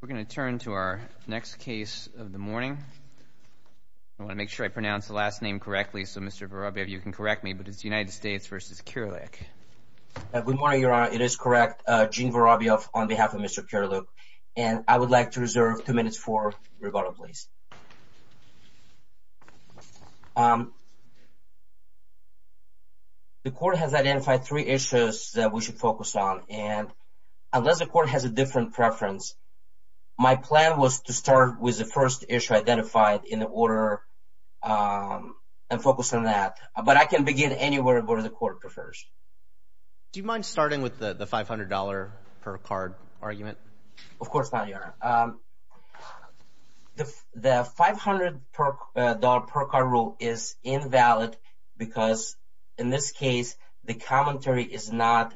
We're going to turn to our next case of the morning. I want to make sure I pronounce the last name correctly so Mr. Vorobiev, you can correct me, but it's United States v. Kirilyuk. Good morning, Your Honor. It is correct, Gene Vorobiev on behalf of Mr. Kirilyuk, and I would like to reserve two minutes for rebuttal, please. The court has identified three issues that we should focus on, and unless the court has a different preference, my plan was to start with the first issue identified in the order and focus on that, but I can begin anywhere where the court prefers. Do you mind starting with the $500 per card argument? Of course not, Your Honor. The $500 per card rule is invalid because in this case the commentary is not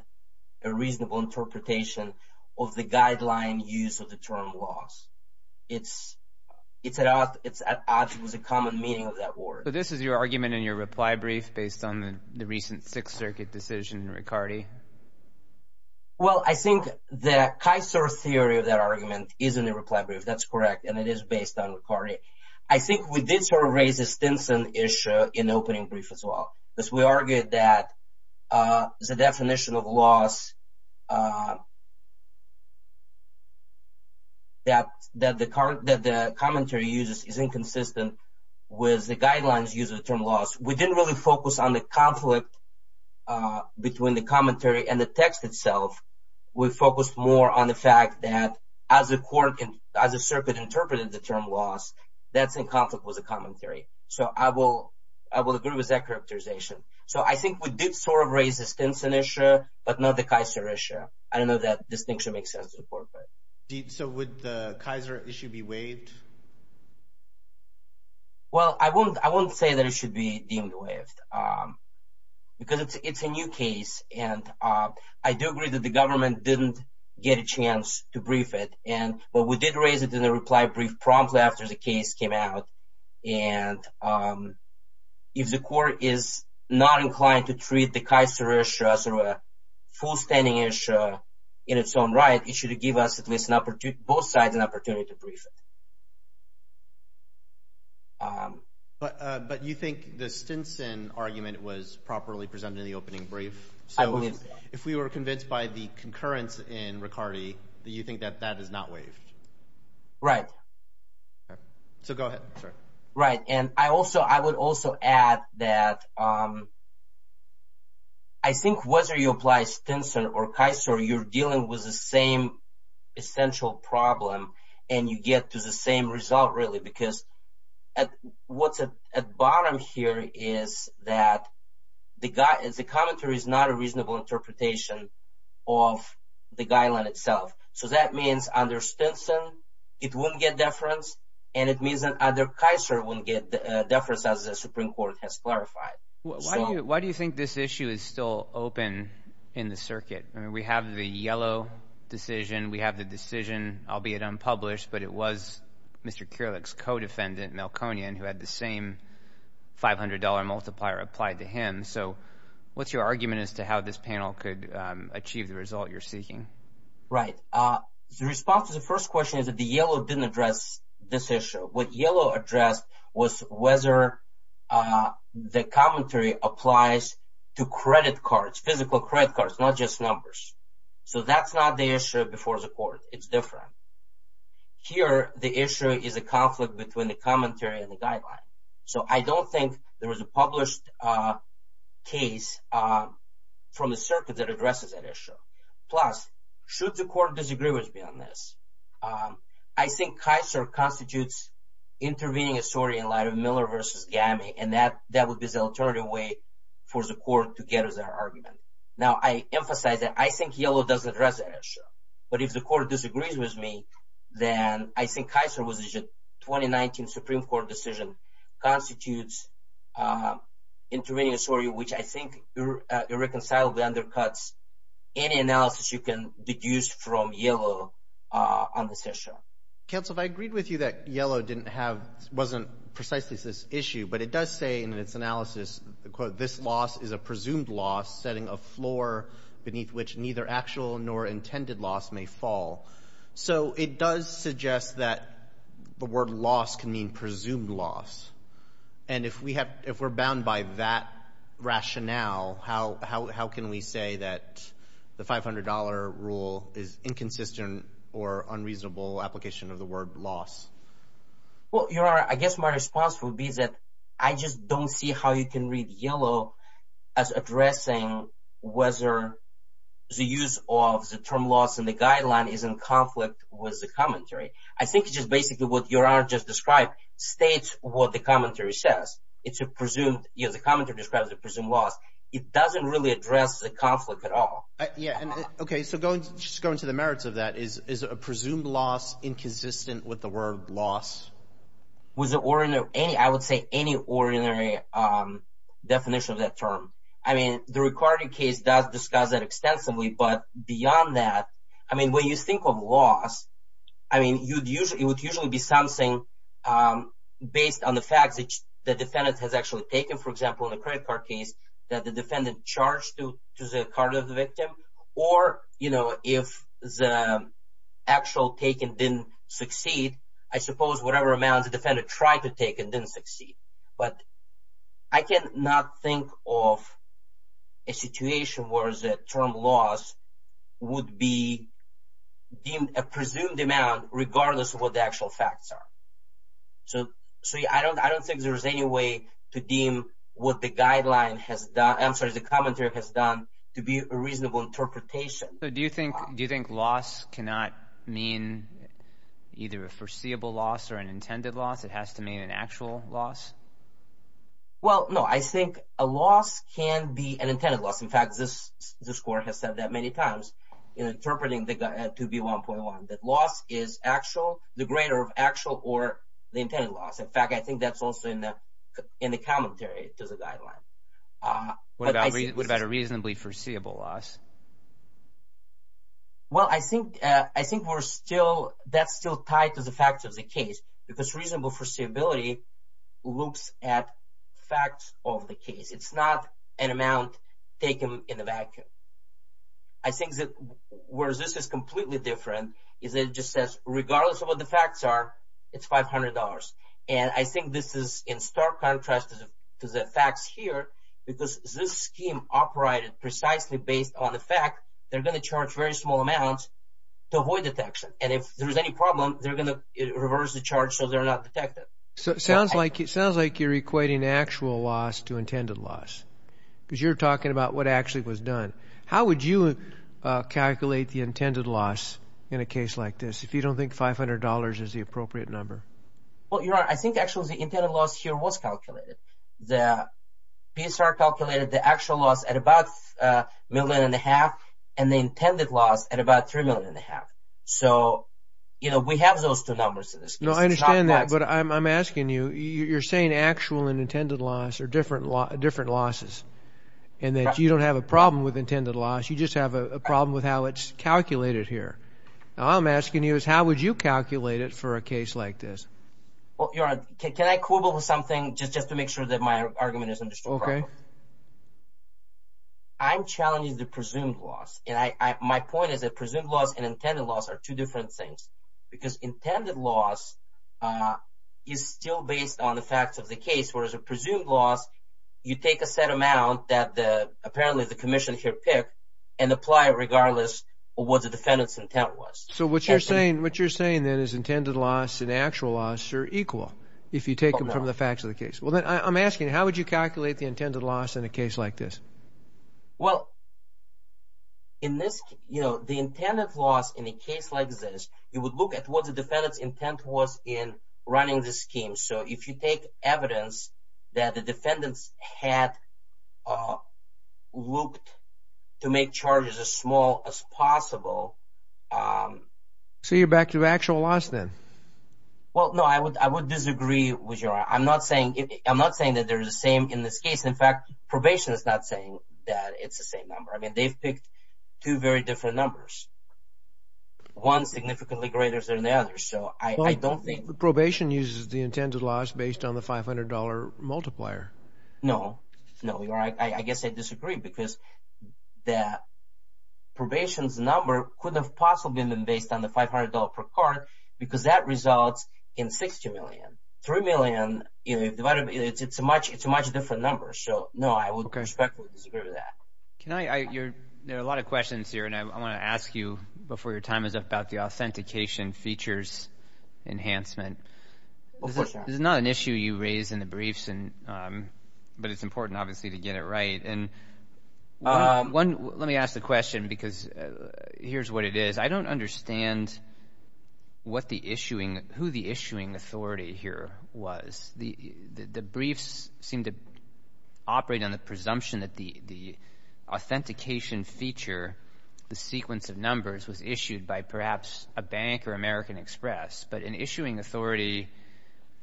a reasonable interpretation of the guideline use of the term loss. It's at odds with the common meaning of that word. So this is your argument in your reply brief based on the recent Sixth Circuit decision in Riccardi? Well, I think the Kaiser theory of that argument is in the reply brief, that's correct, and it is based on Riccardi. I think we did sort of raise the Stinson issue in the definition of loss that the commentary uses is inconsistent with the guidelines use of the term loss. We didn't really focus on the conflict between the commentary and the text itself. We focused more on the fact that as a court and as a circuit interpreted the term loss, that's in conflict with the commentary. So I will agree with that characterization. So I think we did sort of raise the Stinson issue but not the Kaiser issue. I don't know if that distinction makes sense to the court. So would the Kaiser issue be waived? Well, I won't say that it should be deemed waived because it's a new case and I do agree that the government didn't get a chance to brief it, but we did raise it in the reply brief promptly after the case came out. And if the court is not a full standing issue in its own right, it should give us at least an opportunity, both sides an opportunity to brief it. But you think the Stinson argument was properly presented in the opening brief? So if we were convinced by the concurrence in Riccardi, do you think that that is not waived? Right. So go ahead. Right, and I also, I would also add that I think whether you apply Stinson or Kaiser, you're dealing with the same essential problem and you get to the same result really because what's at bottom here is that the commentary is not a reasonable interpretation of the guideline itself. So that means under Stinson, it won't get deference and it Why do you think this issue is still open in the circuit? I mean, we have the yellow decision, we have the decision, albeit unpublished, but it was Mr. Kurelek's co-defendant, Melkonian, who had the same $500 multiplier applied to him. So what's your argument as to how this panel could achieve the result you're seeking? Right. The response to the first question is that the yellow didn't address this the commentary applies to credit cards, physical credit cards, not just numbers. So that's not the issue before the court. It's different. Here, the issue is a conflict between the commentary and the guideline. So I don't think there was a published case from the circuit that addresses that issue. Plus, should the court disagree with me on this? I think Kaiser constitutes intervening a story in light of Miller versus GAMI. And that that would be the alternative way for the court to get his argument. Now, I emphasize that I think yellow doesn't address the issue. But if the court disagrees with me, then I think Kaiser was issued 2019 Supreme Court decision constitutes intervening a story which I think irreconcilably undercuts any analysis you can deduce from yellow on this issue. Council, if I agreed with you that yellow didn't have wasn't precisely this issue, but it does say in its analysis, the quote, this loss is a presumed loss setting a floor beneath which neither actual nor intended loss may fall. So it does suggest that the word loss can mean presumed loss. And if we have if we're bound by that rationale, how can we say that the $500 rule is inconsistent or unreasonable application of the word loss? Well, you're right. I guess my response would be that I just don't see how you can read yellow as addressing whether the use of the term loss in the guideline is in conflict with the commentary. I think it's just basically what you are just described states what the commentary says. It's a presumed, you know, the commentary describes a presumed loss. It doesn't really address the conflict at all. Yeah. Okay. So just going to the merits of that is a presumed loss inconsistent with the word loss. Was it ordinary? I would say any ordinary definition of that term. I mean, the recording case does discuss that extensively. But beyond that, I mean, when you think of loss, I mean, you'd usually it would usually be something based on the fact that the defendant has actually taken, for example, the credit case that the defendant charged to the card of the victim. Or, you know, if the actual taken didn't succeed, I suppose whatever amount the defendant tried to take and didn't succeed. But I cannot think of a situation where the term loss would be deemed a presumed amount regardless of what the actual facts are. So, so I don't I don't think there's any way to deem what the guideline has done. I'm sorry. The commentary has done to be a reasonable interpretation. Do you think do you think loss cannot mean either a foreseeable loss or an intended loss? It has to mean an actual loss. Well, no, I think a loss can be an intended loss. In fact, this this court has said that many times interpreting the to be one point one that loss is actual, the greater of actual or the intended loss. In fact, I think that's also in the in the commentary to the guideline. What about what about a reasonably foreseeable loss? Well, I think I think we're still that's still tied to the fact of the case, because reasonable foreseeability looks at facts of the case, it's not an amount taken in the vacuum. I think that where this is completely different is it just says regardless of what the facts are, it's $500. And I think this is in stark contrast to the facts here, because this scheme operated precisely based on the fact they're going to charge very small amounts to avoid detection. And if there's any problem, they're going to reverse the charge. So they're not detected. So it sounds like it sounds like you're equating actual loss to intended loss. Because you're talking about what actually was done. How would you calculate the intended loss in a case like this, if you don't think $500 is the appropriate number? Well, you're right, I think actually, the intended loss here was calculated. The PSR calculated the actual loss at about a million and a half, and the intended loss at about three million and a half. So, you know, we have those two numbers in this case. No, I understand that. But I'm asking you, you're saying actual and intended loss are different, different losses. And that you don't have a problem with how it's calculated here. I'm asking you is how would you calculate it for a case like this? Well, you're right. Can I quibble with something just just to make sure that my argument is understood? Okay. I'm challenging the presumed loss. And I, my point is that presumed loss and intended loss are two different things. Because intended loss is still based on the facts of the case, whereas a presumed loss, you take a set amount that apparently the commission here picked, and apply it regardless of what the defendant's intent was. So what you're saying, what you're saying then is intended loss and actual loss are equal, if you take them from the facts of the case. Well, then I'm asking, how would you calculate the intended loss in a case like this? Well, in this, you know, the intended loss in a case like this, you would look at what the defendant's intent was in running the scheme. So if you take evidence that the defendants had looked to make charges as small as possible. So you're back to actual loss then? Well, no, I would I would disagree with you. I'm not saying I'm not saying that they're the same in this case. In fact, probation is not saying that it's the same number. I mean, they've picked two very different numbers. One significantly greater than the other. So I don't think probation uses the intended loss based on the $500 multiplier. No, no, you're right. I guess I disagree because that probation's number could have possibly been based on the $500 per card, because that results in $60 million, $3 million, it's a much, it's a much different number. So no, I would respectfully disagree with that. Can I, you're, there are a lot of questions here. And I want to ask you before your time is up about the authentication features enhancement. This is not an issue you raised in the briefs. And but it's important, obviously, to get it right. And one, let me ask the question, because here's what it is. I don't understand what the issuing who the issuing authority here was the the briefs seem to operate on the presumption that the the authentication feature, the sequence of numbers was issued by perhaps a bank or American Express, but an issuing authority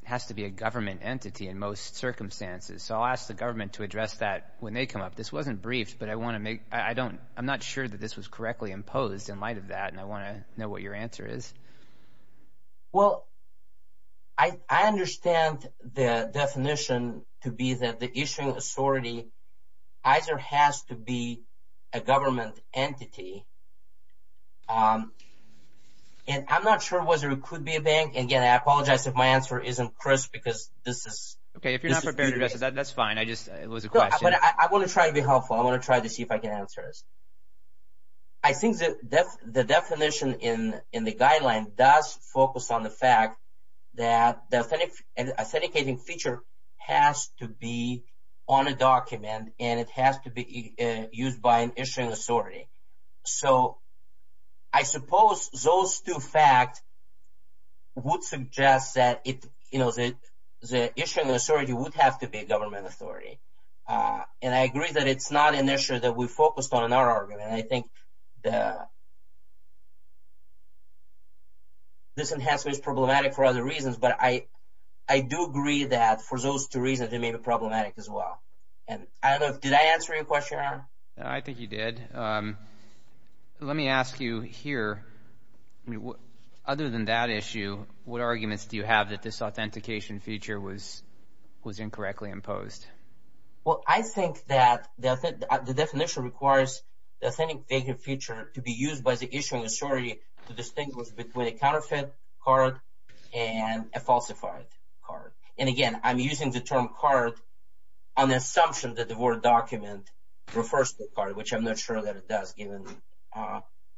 has to be a government entity in most circumstances. So I'll ask the government to address that when they come up. This wasn't briefed, but I want to make I don't, I'm not sure that this was correctly imposed in light of that. And I want to know what your answer is. Well, I understand the definition to be that the issuing authority either has to be a government entity. And I'm not sure whether it could be a bank. And again, I apologize if my answer isn't crisp, because this is Okay, if you're not prepared to address that, that's fine. I just it was a question. I want to try to be helpful. I want to try to see if I can answer this. I think that that's the definition in in the guideline does focus on the fact that the authentic and authenticating feature has to be on a document and it has to be used by an issuing authority. So I suppose those two facts would suggest that it, you know, that the issuing authority would have to be a government authority. And I agree that it's not an issue that we focused on in I think the this enhancement is problematic for other reasons. But I, I do agree that for those two reasons, it may be problematic as well. And I don't know, did I answer your question? I think you did. Let me ask you here. What other than that issue? What arguments do you have that this authentication feature was, was incorrectly imposed? Well, I think that the definition requires the authenticating feature to be used by the issuing authority to distinguish between a counterfeit card and a falsified card. And again, I'm using the term card on the assumption that the word document refers to the card, which I'm not sure that it does given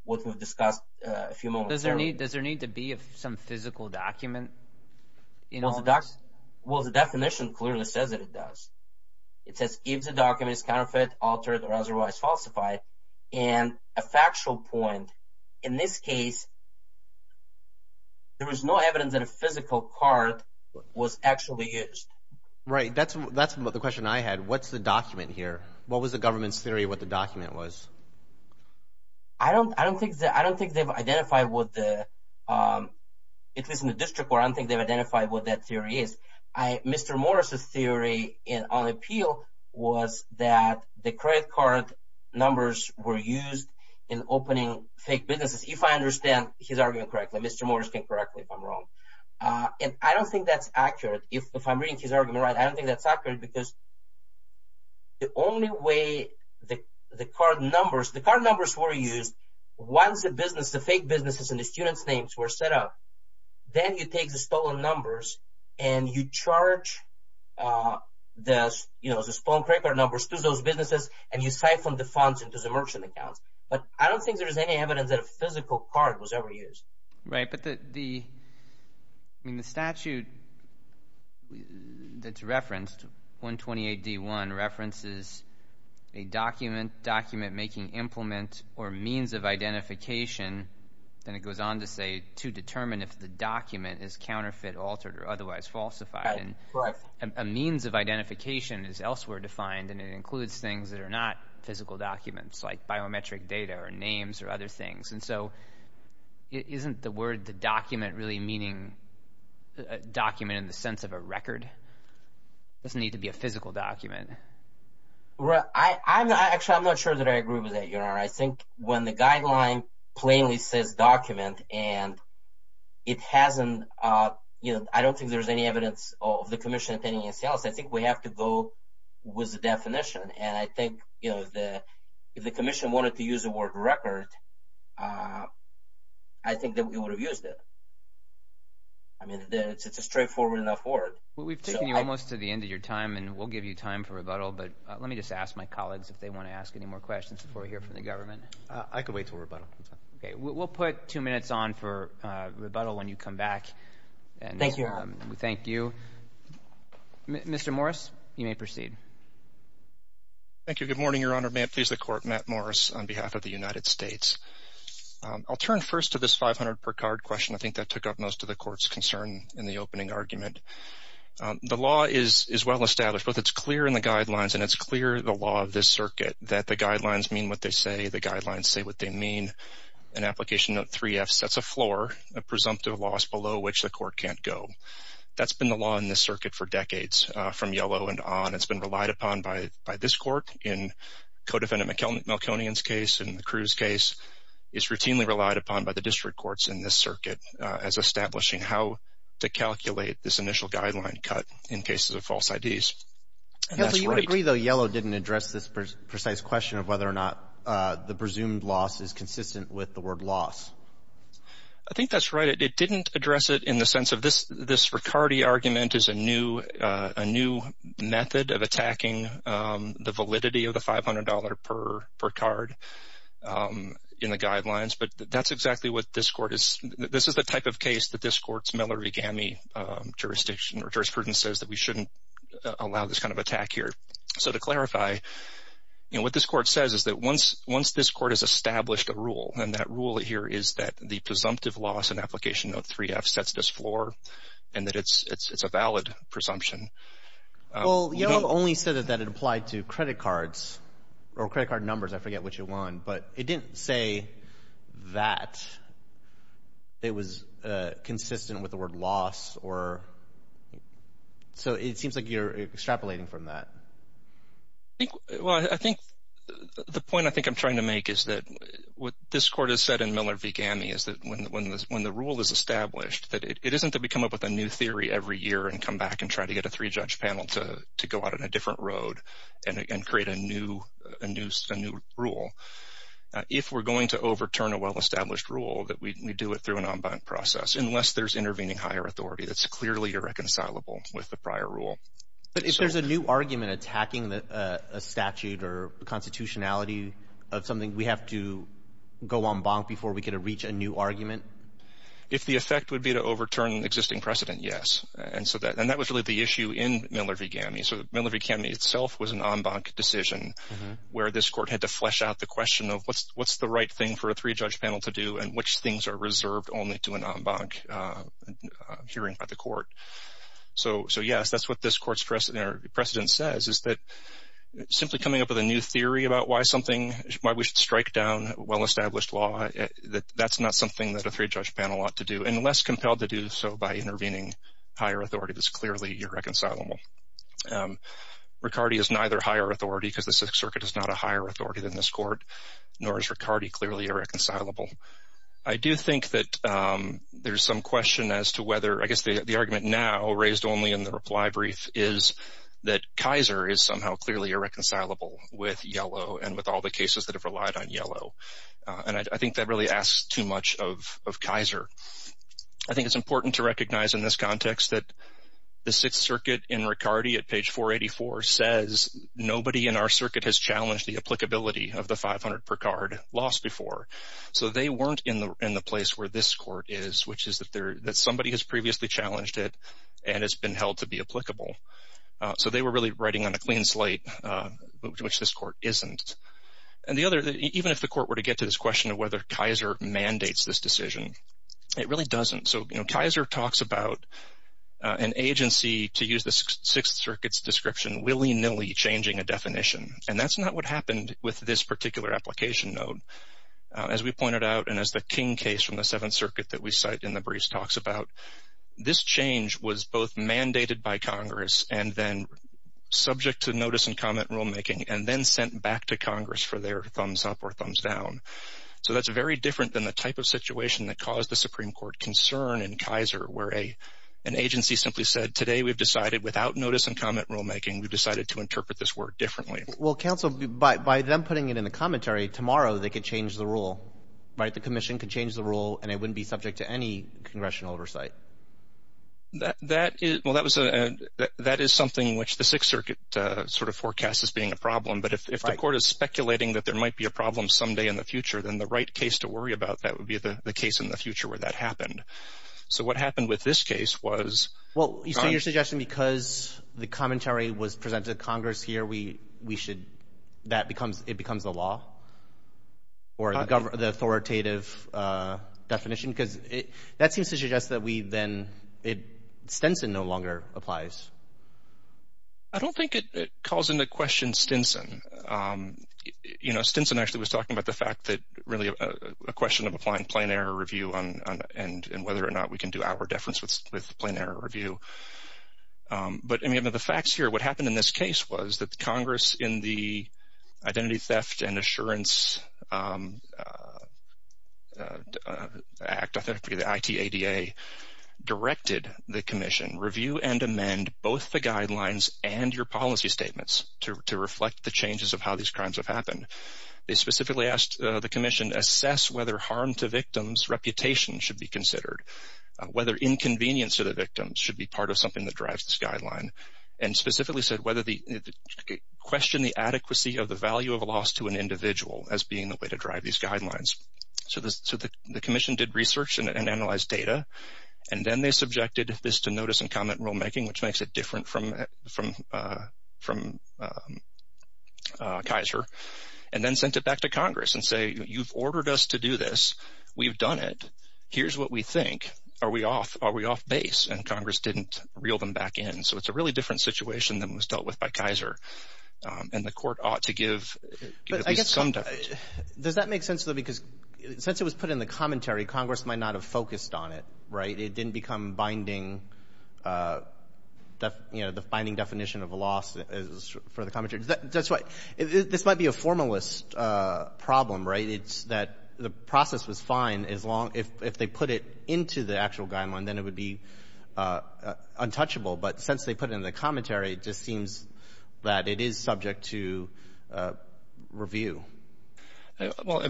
what we've discussed a few moments. Does there need does there need to be some physical document? You know, the docs, well, the definition clearly says that it does. It says gives a document is counterfeit, altered or otherwise falsified. And a factual point. In this case, there was no evidence that a physical card was actually used. Right? That's, that's the question I had. What's the document here? What was the government's theory what the document was? I don't I don't think that I don't think they've identified what the it was in district where I don't think they've identified what that theory is. I Mr. Morris's theory in on appeal was that the credit card numbers were used in opening fake businesses. If I understand his argument correctly, Mr. Morris can correctly if I'm wrong. And I don't think that's accurate. If I'm reading his argument, right, I don't think that's accurate because the only way the card numbers, the card numbers were used once a business, the fake businesses and the students names were set up, then you take the stolen numbers, and you charge this, you know, this phone credit card numbers to those businesses, and you siphon the funds into the merchant accounts. But I don't think there's any evidence that a physical card was ever used. Right, but the the mean the statute that's referenced 128 D one references a document document making implement or means of identification. Then it goes on to say to determine if the document is counterfeit, altered or otherwise falsified. And a means of identification is elsewhere defined, and it includes things that are not physical documents like biometric data or names or other things. And so isn't the word the document really meaning document in the right? I'm actually I'm not sure that I agree with that. You know, I think when the guideline plainly says document and it hasn't, you know, I don't think there's any evidence of the commission attending and sales. I think we have to go with the definition. And I think, you know, the if the commission wanted to use the word record, I think that we would have used it. I mean, it's a straightforward enough word. We've taken you almost to the end of your time, and we'll give you time for rebuttal. But let me just ask my colleagues if they want to ask any more questions before we hear from the government. I could wait to rebuttal. Okay, we'll put two minutes on for rebuttal when you come back. And thank you. Thank you, Mr Morris. You may proceed. Thank you. Good morning, Your Honor. May it please the court met Morris on behalf of the United States. I'll turn first to this 500 per card question. I think that took up most of the court's concern in the opening argument. The law is is well established, but it's clear in the guidelines, and it's clear the law of this circuit that the guidelines mean what they say. The guidelines say what they mean. An application of three F sets a floor, a presumptive loss below which the court can't go. That's been the law in this circuit for decades from yellow and on. It's been relied upon by by this court in codefendant McKellen. Melkonian's case in the cruise case is routinely relied upon by the district courts in this circuit as establishing how to calculate this is a false ideas. You agree, though. Yellow didn't address this precise question of whether or not the presumed loss is consistent with the word loss. I think that's right. It didn't address it in the sense of this. This Ricardi argument is a new a new method of attacking the validity of the $500 per per card, um, in the guidelines. But that's exactly what this court is. This is the type of case that this court's Miller began me. Um, jurisdiction or his prudence says that we shouldn't allow this kind of attack here. So to clarify what this court says is that once once this court has established a rule and that rule here is that the presumptive loss and application of three F sets this floor and that it's it's a valid presumption. Well, you know, only said that it applied to credit cards or credit card numbers. I forget what you want, but it didn't say that it was consistent with the word loss or so. It seems like you're extrapolating from that. I think the point I think I'm trying to make is that what this court has said in Miller began me is that when when when the rule is established that it isn't that we come up with a new theory every year and come back and try to get a three judge panel toe to go out on a different road and create a new a new a new rule. If we're going to overturn a well established rule that we do it through process unless there's intervening higher authority that's clearly irreconcilable with the prior rule. But if there's a new argument attacking a statute or constitutionality of something we have to go on bonk before we get to reach a new argument, if the effect would be to overturn existing precedent, yes. And so that and that was really the issue in Miller began me. So Miller Academy itself was an en banc decision where this court had to flesh out the question of what's what's the right thing for a three judge panel to do and which things are reserved only to an en banc hearing by the court. So so yes that's what this court's precedent says is that simply coming up with a new theory about why something why we should strike down well established law that that's not something that a three judge panel ought to do and less compelled to do so by intervening higher authority that's clearly irreconcilable. Riccardi is neither higher authority because the Sixth Circuit is not a higher authority than this court nor is Riccardi clearly irreconcilable. I do think that there's some question as to whether I guess the the argument now raised only in the reply brief is that Kaiser is somehow clearly irreconcilable with Yellow and with all the cases that have relied on Yellow. And I think that really asks too much of Kaiser. I think it's important to recognize in this context that the Sixth Circuit in Riccardi at page 484 says nobody in our circuit has challenged the applicability of the 500 per card lost before. So they weren't in the in the place where this court is which is that there that somebody has previously challenged it and it's been held to be applicable. So they were really writing on a clean slate which this court isn't. And the other even if the court were to get to this question of whether Kaiser mandates this decision it really doesn't. So you know Kaiser talks about an agency to use the Sixth Circuit's description willy-nilly changing a definition and that's not what happened with this particular application note. As we pointed out and as the King case from the Seventh Circuit that we cite in the briefs talks about this change was both mandated by Congress and then subject to notice and comment rulemaking and then sent back to Congress for their thumbs up or thumbs down. So that's very different than the type of situation that caused the Supreme Court concern in Kaiser where a an agency simply said today we've decided without notice and comment rulemaking we've decided to By them putting it in the commentary tomorrow they could change the rule. Right the Commission could change the rule and it wouldn't be subject to any congressional oversight. That is something which the Sixth Circuit sort of forecast as being a problem but if the court is speculating that there might be a problem someday in the future then the right case to worry about that would be the case in the future where that happened. So what happened with this case was. Well you see your suggestion because the commentary was presented to Congress here we we should that becomes it becomes a law or the authoritative definition because it that seems to suggest that we then it Stinson no longer applies. I don't think it calls into question Stinson. You know Stinson actually was talking about the fact that really a question of applying plain error review on and and whether or not we can do our deference with plain error review. But I mean of the facts here what happened in this case was that Congress in the Identity Theft and Assurance Act authentically the ITADA directed the Commission review and amend both the guidelines and your policy statements to reflect the changes of how these crimes have happened. They specifically asked the Commission assess whether harm to victims reputation should be considered. Whether inconvenience to the victims should be part of something that drives this guideline and specifically said whether the question the adequacy of the value of a loss to an individual as being the way to drive these guidelines. So this so the Commission did research and analyze data and then they subjected this to notice and comment rulemaking which makes it different from from from Kaiser and then sent it back to Congress and say you've ordered us to do this we've done it here's what we think are we off are we off base and Congress didn't reel them back in so it's a really different situation than was dealt with by Kaiser and the court ought to give some does that make sense though because since it was put in the commentary Congress might not have focused on it right it didn't become binding that you know the finding definition of a loss is for the problem right it's that the process was fine as long if they put it into the actual guideline then it would be untouchable but since they put in the commentary it just seems that it is subject to review well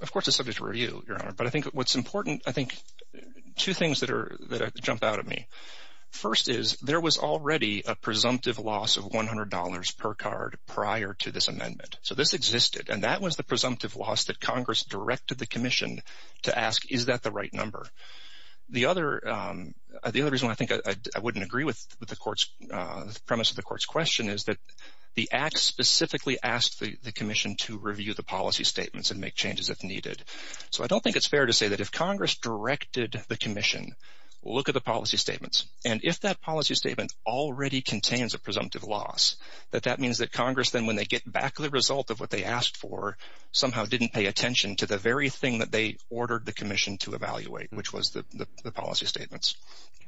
of course it's subject to review your honor but I think what's important I think two things that are that jump out at me first is there was already a presumptive loss of $100 per card prior to this amendment so this existed and that was the presumptive loss that Congress directed the Commission to ask is that the right number the other the other reason I think I wouldn't agree with the courts premise of the court's question is that the act specifically asked the Commission to review the policy statements and make changes if needed so I don't think it's fair to say that if Congress directed the Commission look at the policy statement already contains a presumptive loss that that means that Congress then when they get back the result of what they asked for somehow didn't pay attention to the very thing that they ordered the Commission to evaluate which was the policy statements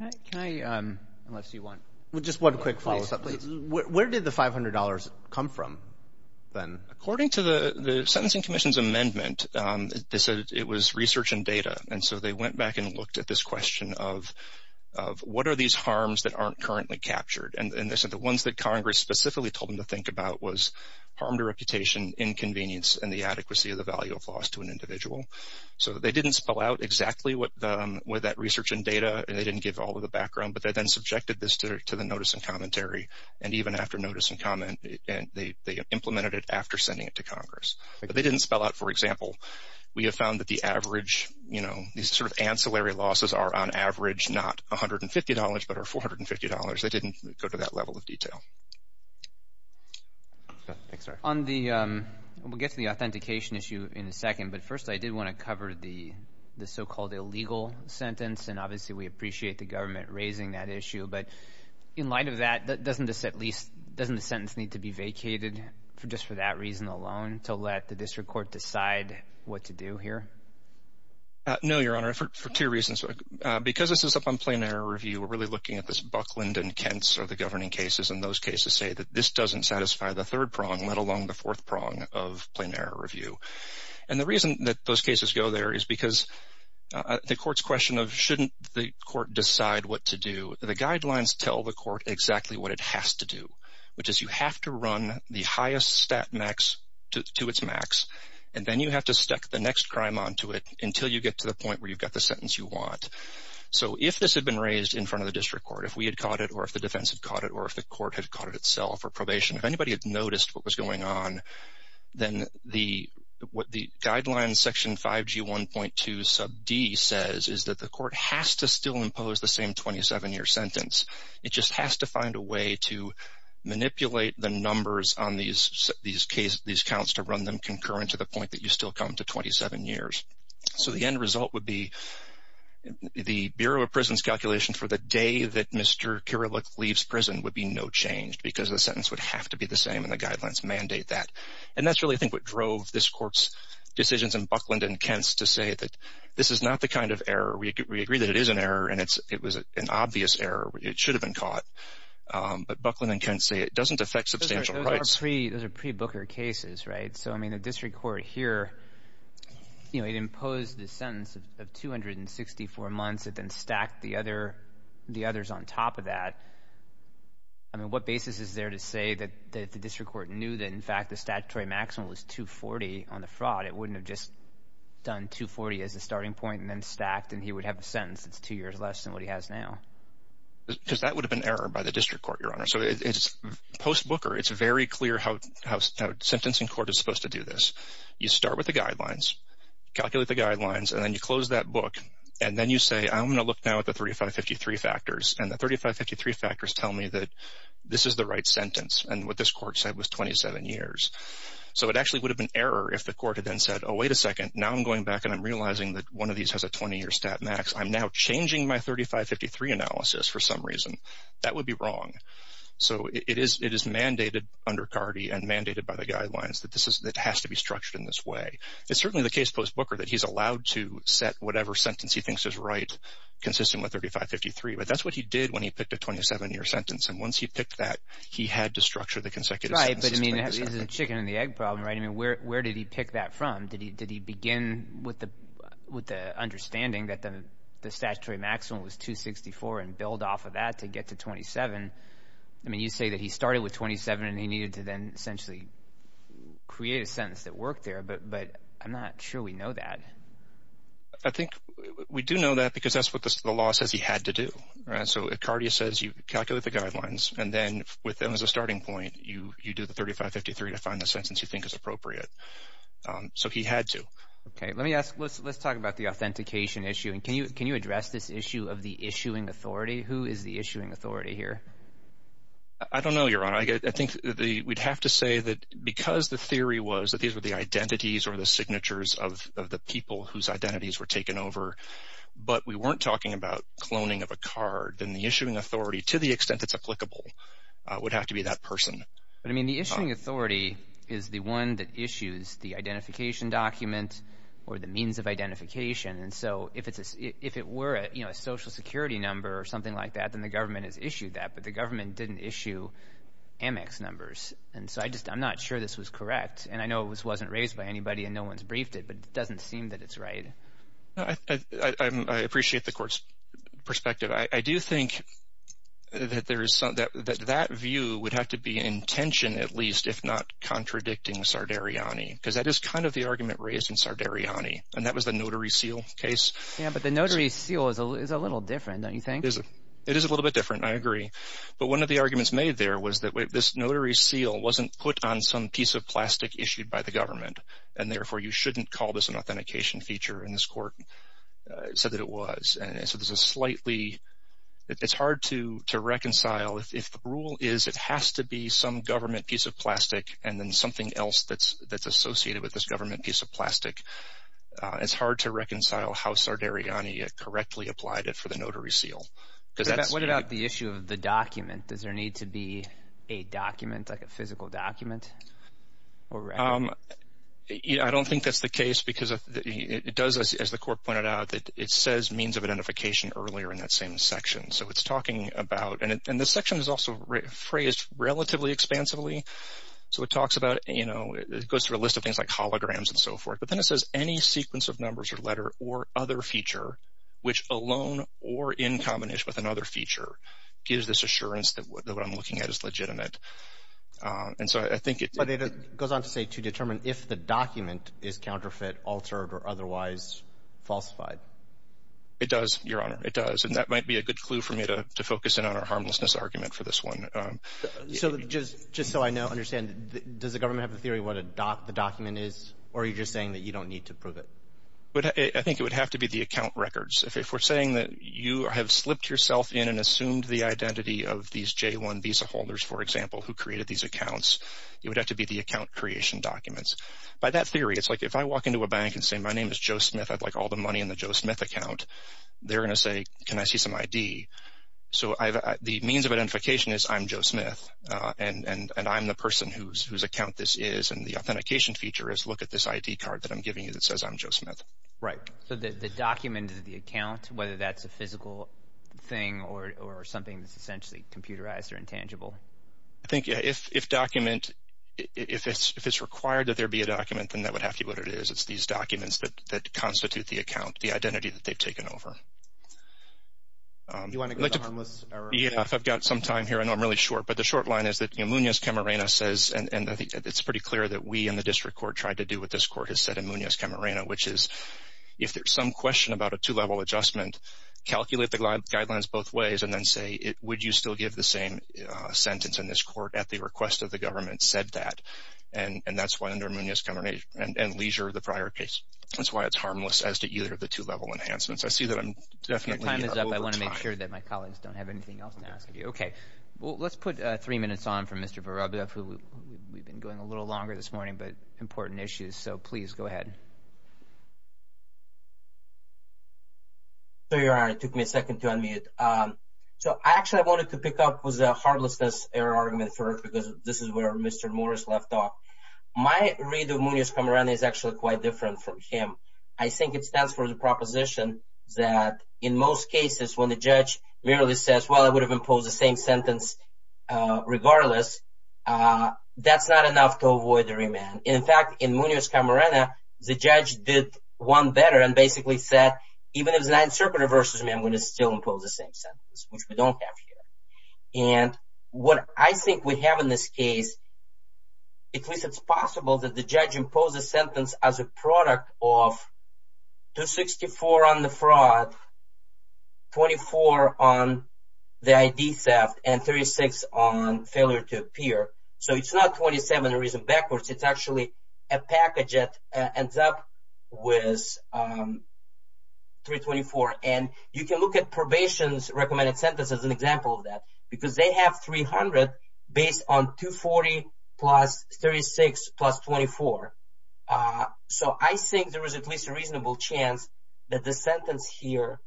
okay unless you want with just one quick follow-up please where did the $500 come from then according to the the sentencing Commission's amendment they said it was research and data and so they went back and looked at this question of what are these harms that aren't currently captured and they said the ones that Congress specifically told them to think about was harm to reputation inconvenience and the adequacy of the value of loss to an individual so they didn't spell out exactly what with that research and data and they didn't give all of the background but they then subjected this to the notice and commentary and even after notice and comment and they implemented it after sending it to Congress they didn't spell out for example we have found that the average you know these sort of ancillary losses are on average not a hundred and fifty dollars but our four hundred and fifty dollars they didn't go to that level of detail on the we'll get to the authentication issue in a second but first I did want to cover the the so-called illegal sentence and obviously we appreciate the government raising that issue but in light of that that doesn't this at least doesn't the sentence need to be vacated for just for that reason alone to let the district court decide what to do here no your effort for two reasons because this is up on plain error review we're really looking at this Buckland and Kent's or the governing cases and those cases say that this doesn't satisfy the third prong let alone the fourth prong of plain error review and the reason that those cases go there is because the courts question of shouldn't the court decide what to do the guidelines tell the court exactly what it has to do which is you have to run the highest stat max to its max and then you have to stack the next crime on to it until you get to the point where you've got the sentence you want so if this had been raised in front of the district court if we had caught it or if the defense had caught it or if the court had caught it itself or probation if anybody had noticed what was going on then the what the guidelines section 5g 1.2 sub d says is that the court has to still impose the same 27 year sentence it just has to find a way to manipulate the numbers on these these case these counts to run them concurrent to the point that you still come to 27 years so the end result would be the Bureau of Prisons calculation for the day that mr. Kerouac leaves prison would be no changed because the sentence would have to be the same and the guidelines mandate that and that's really think what drove this court's decisions in Buckland and Kent's to say that this is not the kind of error we agree that it is an error and it's it was an obvious error it should have been caught but Buckland and Kent say it doesn't affect pre-booker cases right so I mean the district court here you know it imposed the sentence of 264 months it then stacked the other the others on top of that I mean what basis is there to say that the district court knew that in fact the statutory maximum was 240 on the fraud it wouldn't have just done 240 as a starting point and then stacked and he would have a sentence that's two years less than what he has now because that would have been error by the it's very clear how sentencing court is supposed to do this you start with the guidelines calculate the guidelines and then you close that book and then you say I'm gonna look now at the 3553 factors and the 3553 factors tell me that this is the right sentence and what this court said was 27 years so it actually would have been error if the court had then said oh wait a second now I'm going back and I'm realizing that one of these has a 20-year stat max I'm now changing my 3553 analysis for some reason that would be wrong so it is it is mandated under CARDI and mandated by the guidelines that this is that has to be structured in this way it's certainly the case post Booker that he's allowed to set whatever sentence he thinks is right consistent with 3553 but that's what he did when he picked a 27-year sentence and once he picked that he had to structure the consecutive chicken and the egg problem right I mean where did he pick that from did he did he begin with the with the understanding that the the statutory maximum was 264 and build off of that to get to 27 I mean you say that he started with 27 and he needed to then essentially create a sentence that worked there but but I'm not sure we know that I think we do know that because that's what the law says he had to do right so it CARDI says you calculate the guidelines and then with them as a starting point you you do the 3553 to find the sentence you think is appropriate so he had to okay let me ask let's let's talk about the authentication issue and can you can you address this issue of the issuing authority who is the issuing authority here I don't know your honor I think the we'd have to say that because the theory was that these were the identities or the signatures of the people whose identities were taken over but we weren't talking about cloning of a card then the issuing authority to the extent that's applicable would have to be that person but I mean the issuing authority is the one that issues the identification document or the means of identification and so if it's if it were a you know a social security number or something like that then the government has issued that but the government didn't issue Amex numbers and so I just I'm not sure this was correct and I know it was wasn't raised by anybody and no one's briefed it but it doesn't seem that it's right I appreciate the court's perspective I do think that there is something that that view would have to be intention at least if not contradicting Sardariani because that is kind of the argument raised in Sardariani and that was the notary seal case yeah but the notary seal is a little different don't you think is it it is a little bit different I agree but one of the arguments made there was that way this notary seal wasn't put on some piece of plastic issued by the government and therefore you shouldn't call this an authentication feature in this court said that it was and so there's a slightly it's hard to to reconcile if the rule is it has to be some government piece of plastic and then something else that's that's associated with this government piece of plastic it's hard to reconcile how Sardariani it correctly applied it for the notary seal what about the issue of the document does there need to be a document like a physical document yeah I don't think that's the case because it does as the court pointed out that it says means of identification earlier in that same section so it's talking about and the section is also phrased relatively expansively so it talks about you know it goes through a list of things like holograms and so forth but then it says any sequence of numbers or letter or other feature which alone or in combination with another feature gives this assurance that what I'm looking at is legitimate and so I think it goes on to say to determine if the document is counterfeit altered or otherwise falsified it does your honor it does and that might be a good clue for me to focus in on our harmlessness argument for this one so just just so I know understand does the government have a theory what a doc the document is or are you just to be the account records if we're saying that you have slipped yourself in and assumed the identity of these j1 visa holders for example who created these accounts you would have to be the account creation documents by that theory it's like if I walk into a bank and say my name is Joe Smith I'd like all the money in the Joe Smith account they're gonna say can I see some ID so I've the means of identification is I'm Joe Smith and and I'm the person who's whose account this is and the authentication feature is look at this ID card that I'm giving you that says I'm Joe Smith right so that the document of the account whether that's a physical thing or something that's essentially computerized or intangible I think yeah if if document if it's if it's required that there be a document then that would have to be what it is it's these documents that constitute the account the identity that they've taken over yeah I've got some time here I know I'm really short but the short line is that you know Munoz Camarena says and I think it's pretty clear that we and the court has said in Munoz Camarena which is if there's some question about a two-level adjustment calculate the guidelines both ways and then say it would you still give the same sentence in this court at the request of the government said that and and that's why under Munoz Camarena and leisure the prior case that's why it's harmless as to either of the two-level enhancements I see that I'm definitely I want to make sure that my colleagues don't have anything else to ask you okay well let's put three minutes on from mr. Barabas who we've been going a little longer this morning but important issues so please go ahead there you are it took me a second to unmute so I actually wanted to pick up was a heartlessness error argument for it because this is where mr. Morris left off my read of Munoz Camarena is actually quite different from him I think it stands for the proposition that in most cases when the judge merely says well I would have imposed the same sentence regardless that's not enough to Munoz Camarena the judge did one better and basically said even if the 9th Circuit reverses me I'm going to still impose the same sentence which we don't have here and what I think we have in this case at least it's possible that the judge impose a sentence as a product of 264 on the fraud 24 on the ID theft and 36 on failure to appear so it's not 27 reason backwards it's actually a package it ends up with 324 and you can look at probation's recommended sentence as an example of that because they have 300 based on 240 plus 36 plus 24 so I think there is at least a reasonable chance that the sentence here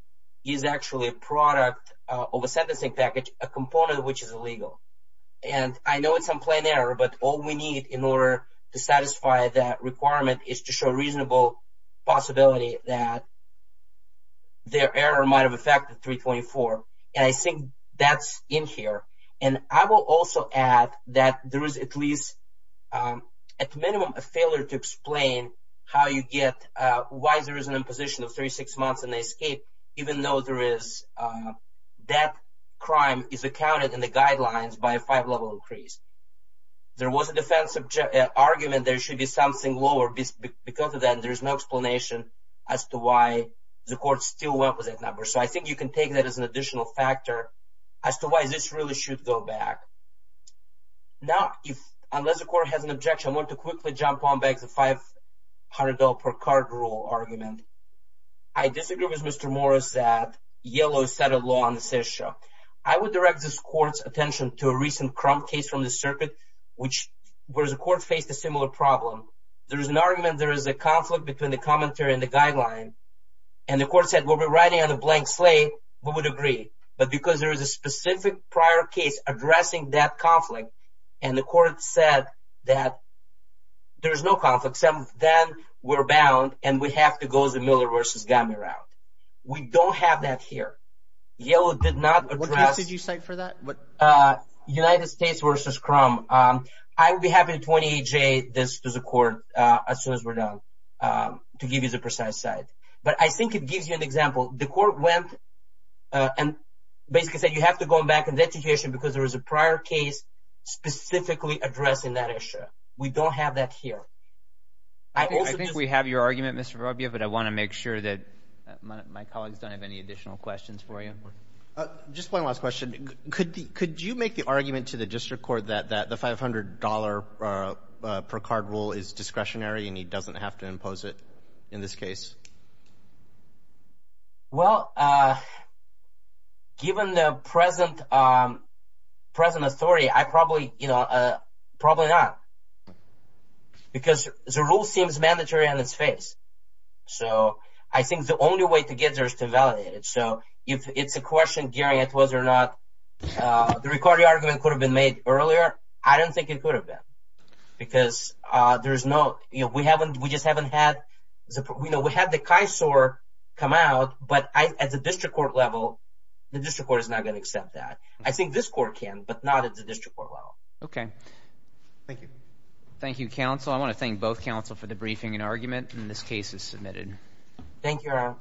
is actually a product of a sentencing package a component which is illegal and I know it's unplanned error but all we need in order to satisfy that requirement is to show reasonable possibility that their error might have affected 324 and I think that's in here and I will also add that there is at least at minimum a failure to explain how you get why there is an imposition of 36 months and they escape even though there is that crime is accounted in the guidelines by a five increase there was a defensive argument there should be something lower because of that there's no explanation as to why the court still went with that number so I think you can take that as an additional factor as to why this really should go back now if unless the court has an objection want to quickly jump on back to five hundred dollar per card rule argument I disagree with mr. Morris that yellow set a law on this issue I would direct this court's attention to a case from the circuit which was a court faced a similar problem there's an argument there is a conflict between the commentary and the guideline and the court said we'll be riding on a blank slate we would agree but because there is a specific prior case addressing that conflict and the court said that there is no conflict seven then we're bound and we have to go to Miller versus we don't have that here did you say for that what United States versus crumb I would be happy to 28 J this is a court as soon as we're done to give you the precise side but I think it gives you an example the court went and basically said you have to go back and education because there is a prior case specifically addressing that issue we don't have that here I think we have your argument mr. Rubio but I want to make sure that my colleagues don't have any additional questions for you just one last question could you make the argument to the district court that the five hundred dollar per card rule is discretionary and he doesn't have to impose it in this case well given the present present authority I probably you so I think the only way to get there is to validate it so if it's a question Gary it was or not the recording argument could have been made earlier I don't think it could have been because there's no you know we haven't we just haven't had we know we had the kai sore come out but I at the district court level the district court is not going to accept that I think this court can but not at the district court well okay thank you thank you counsel I want to thank both counsel for the briefing and argument in this case is submitted thank you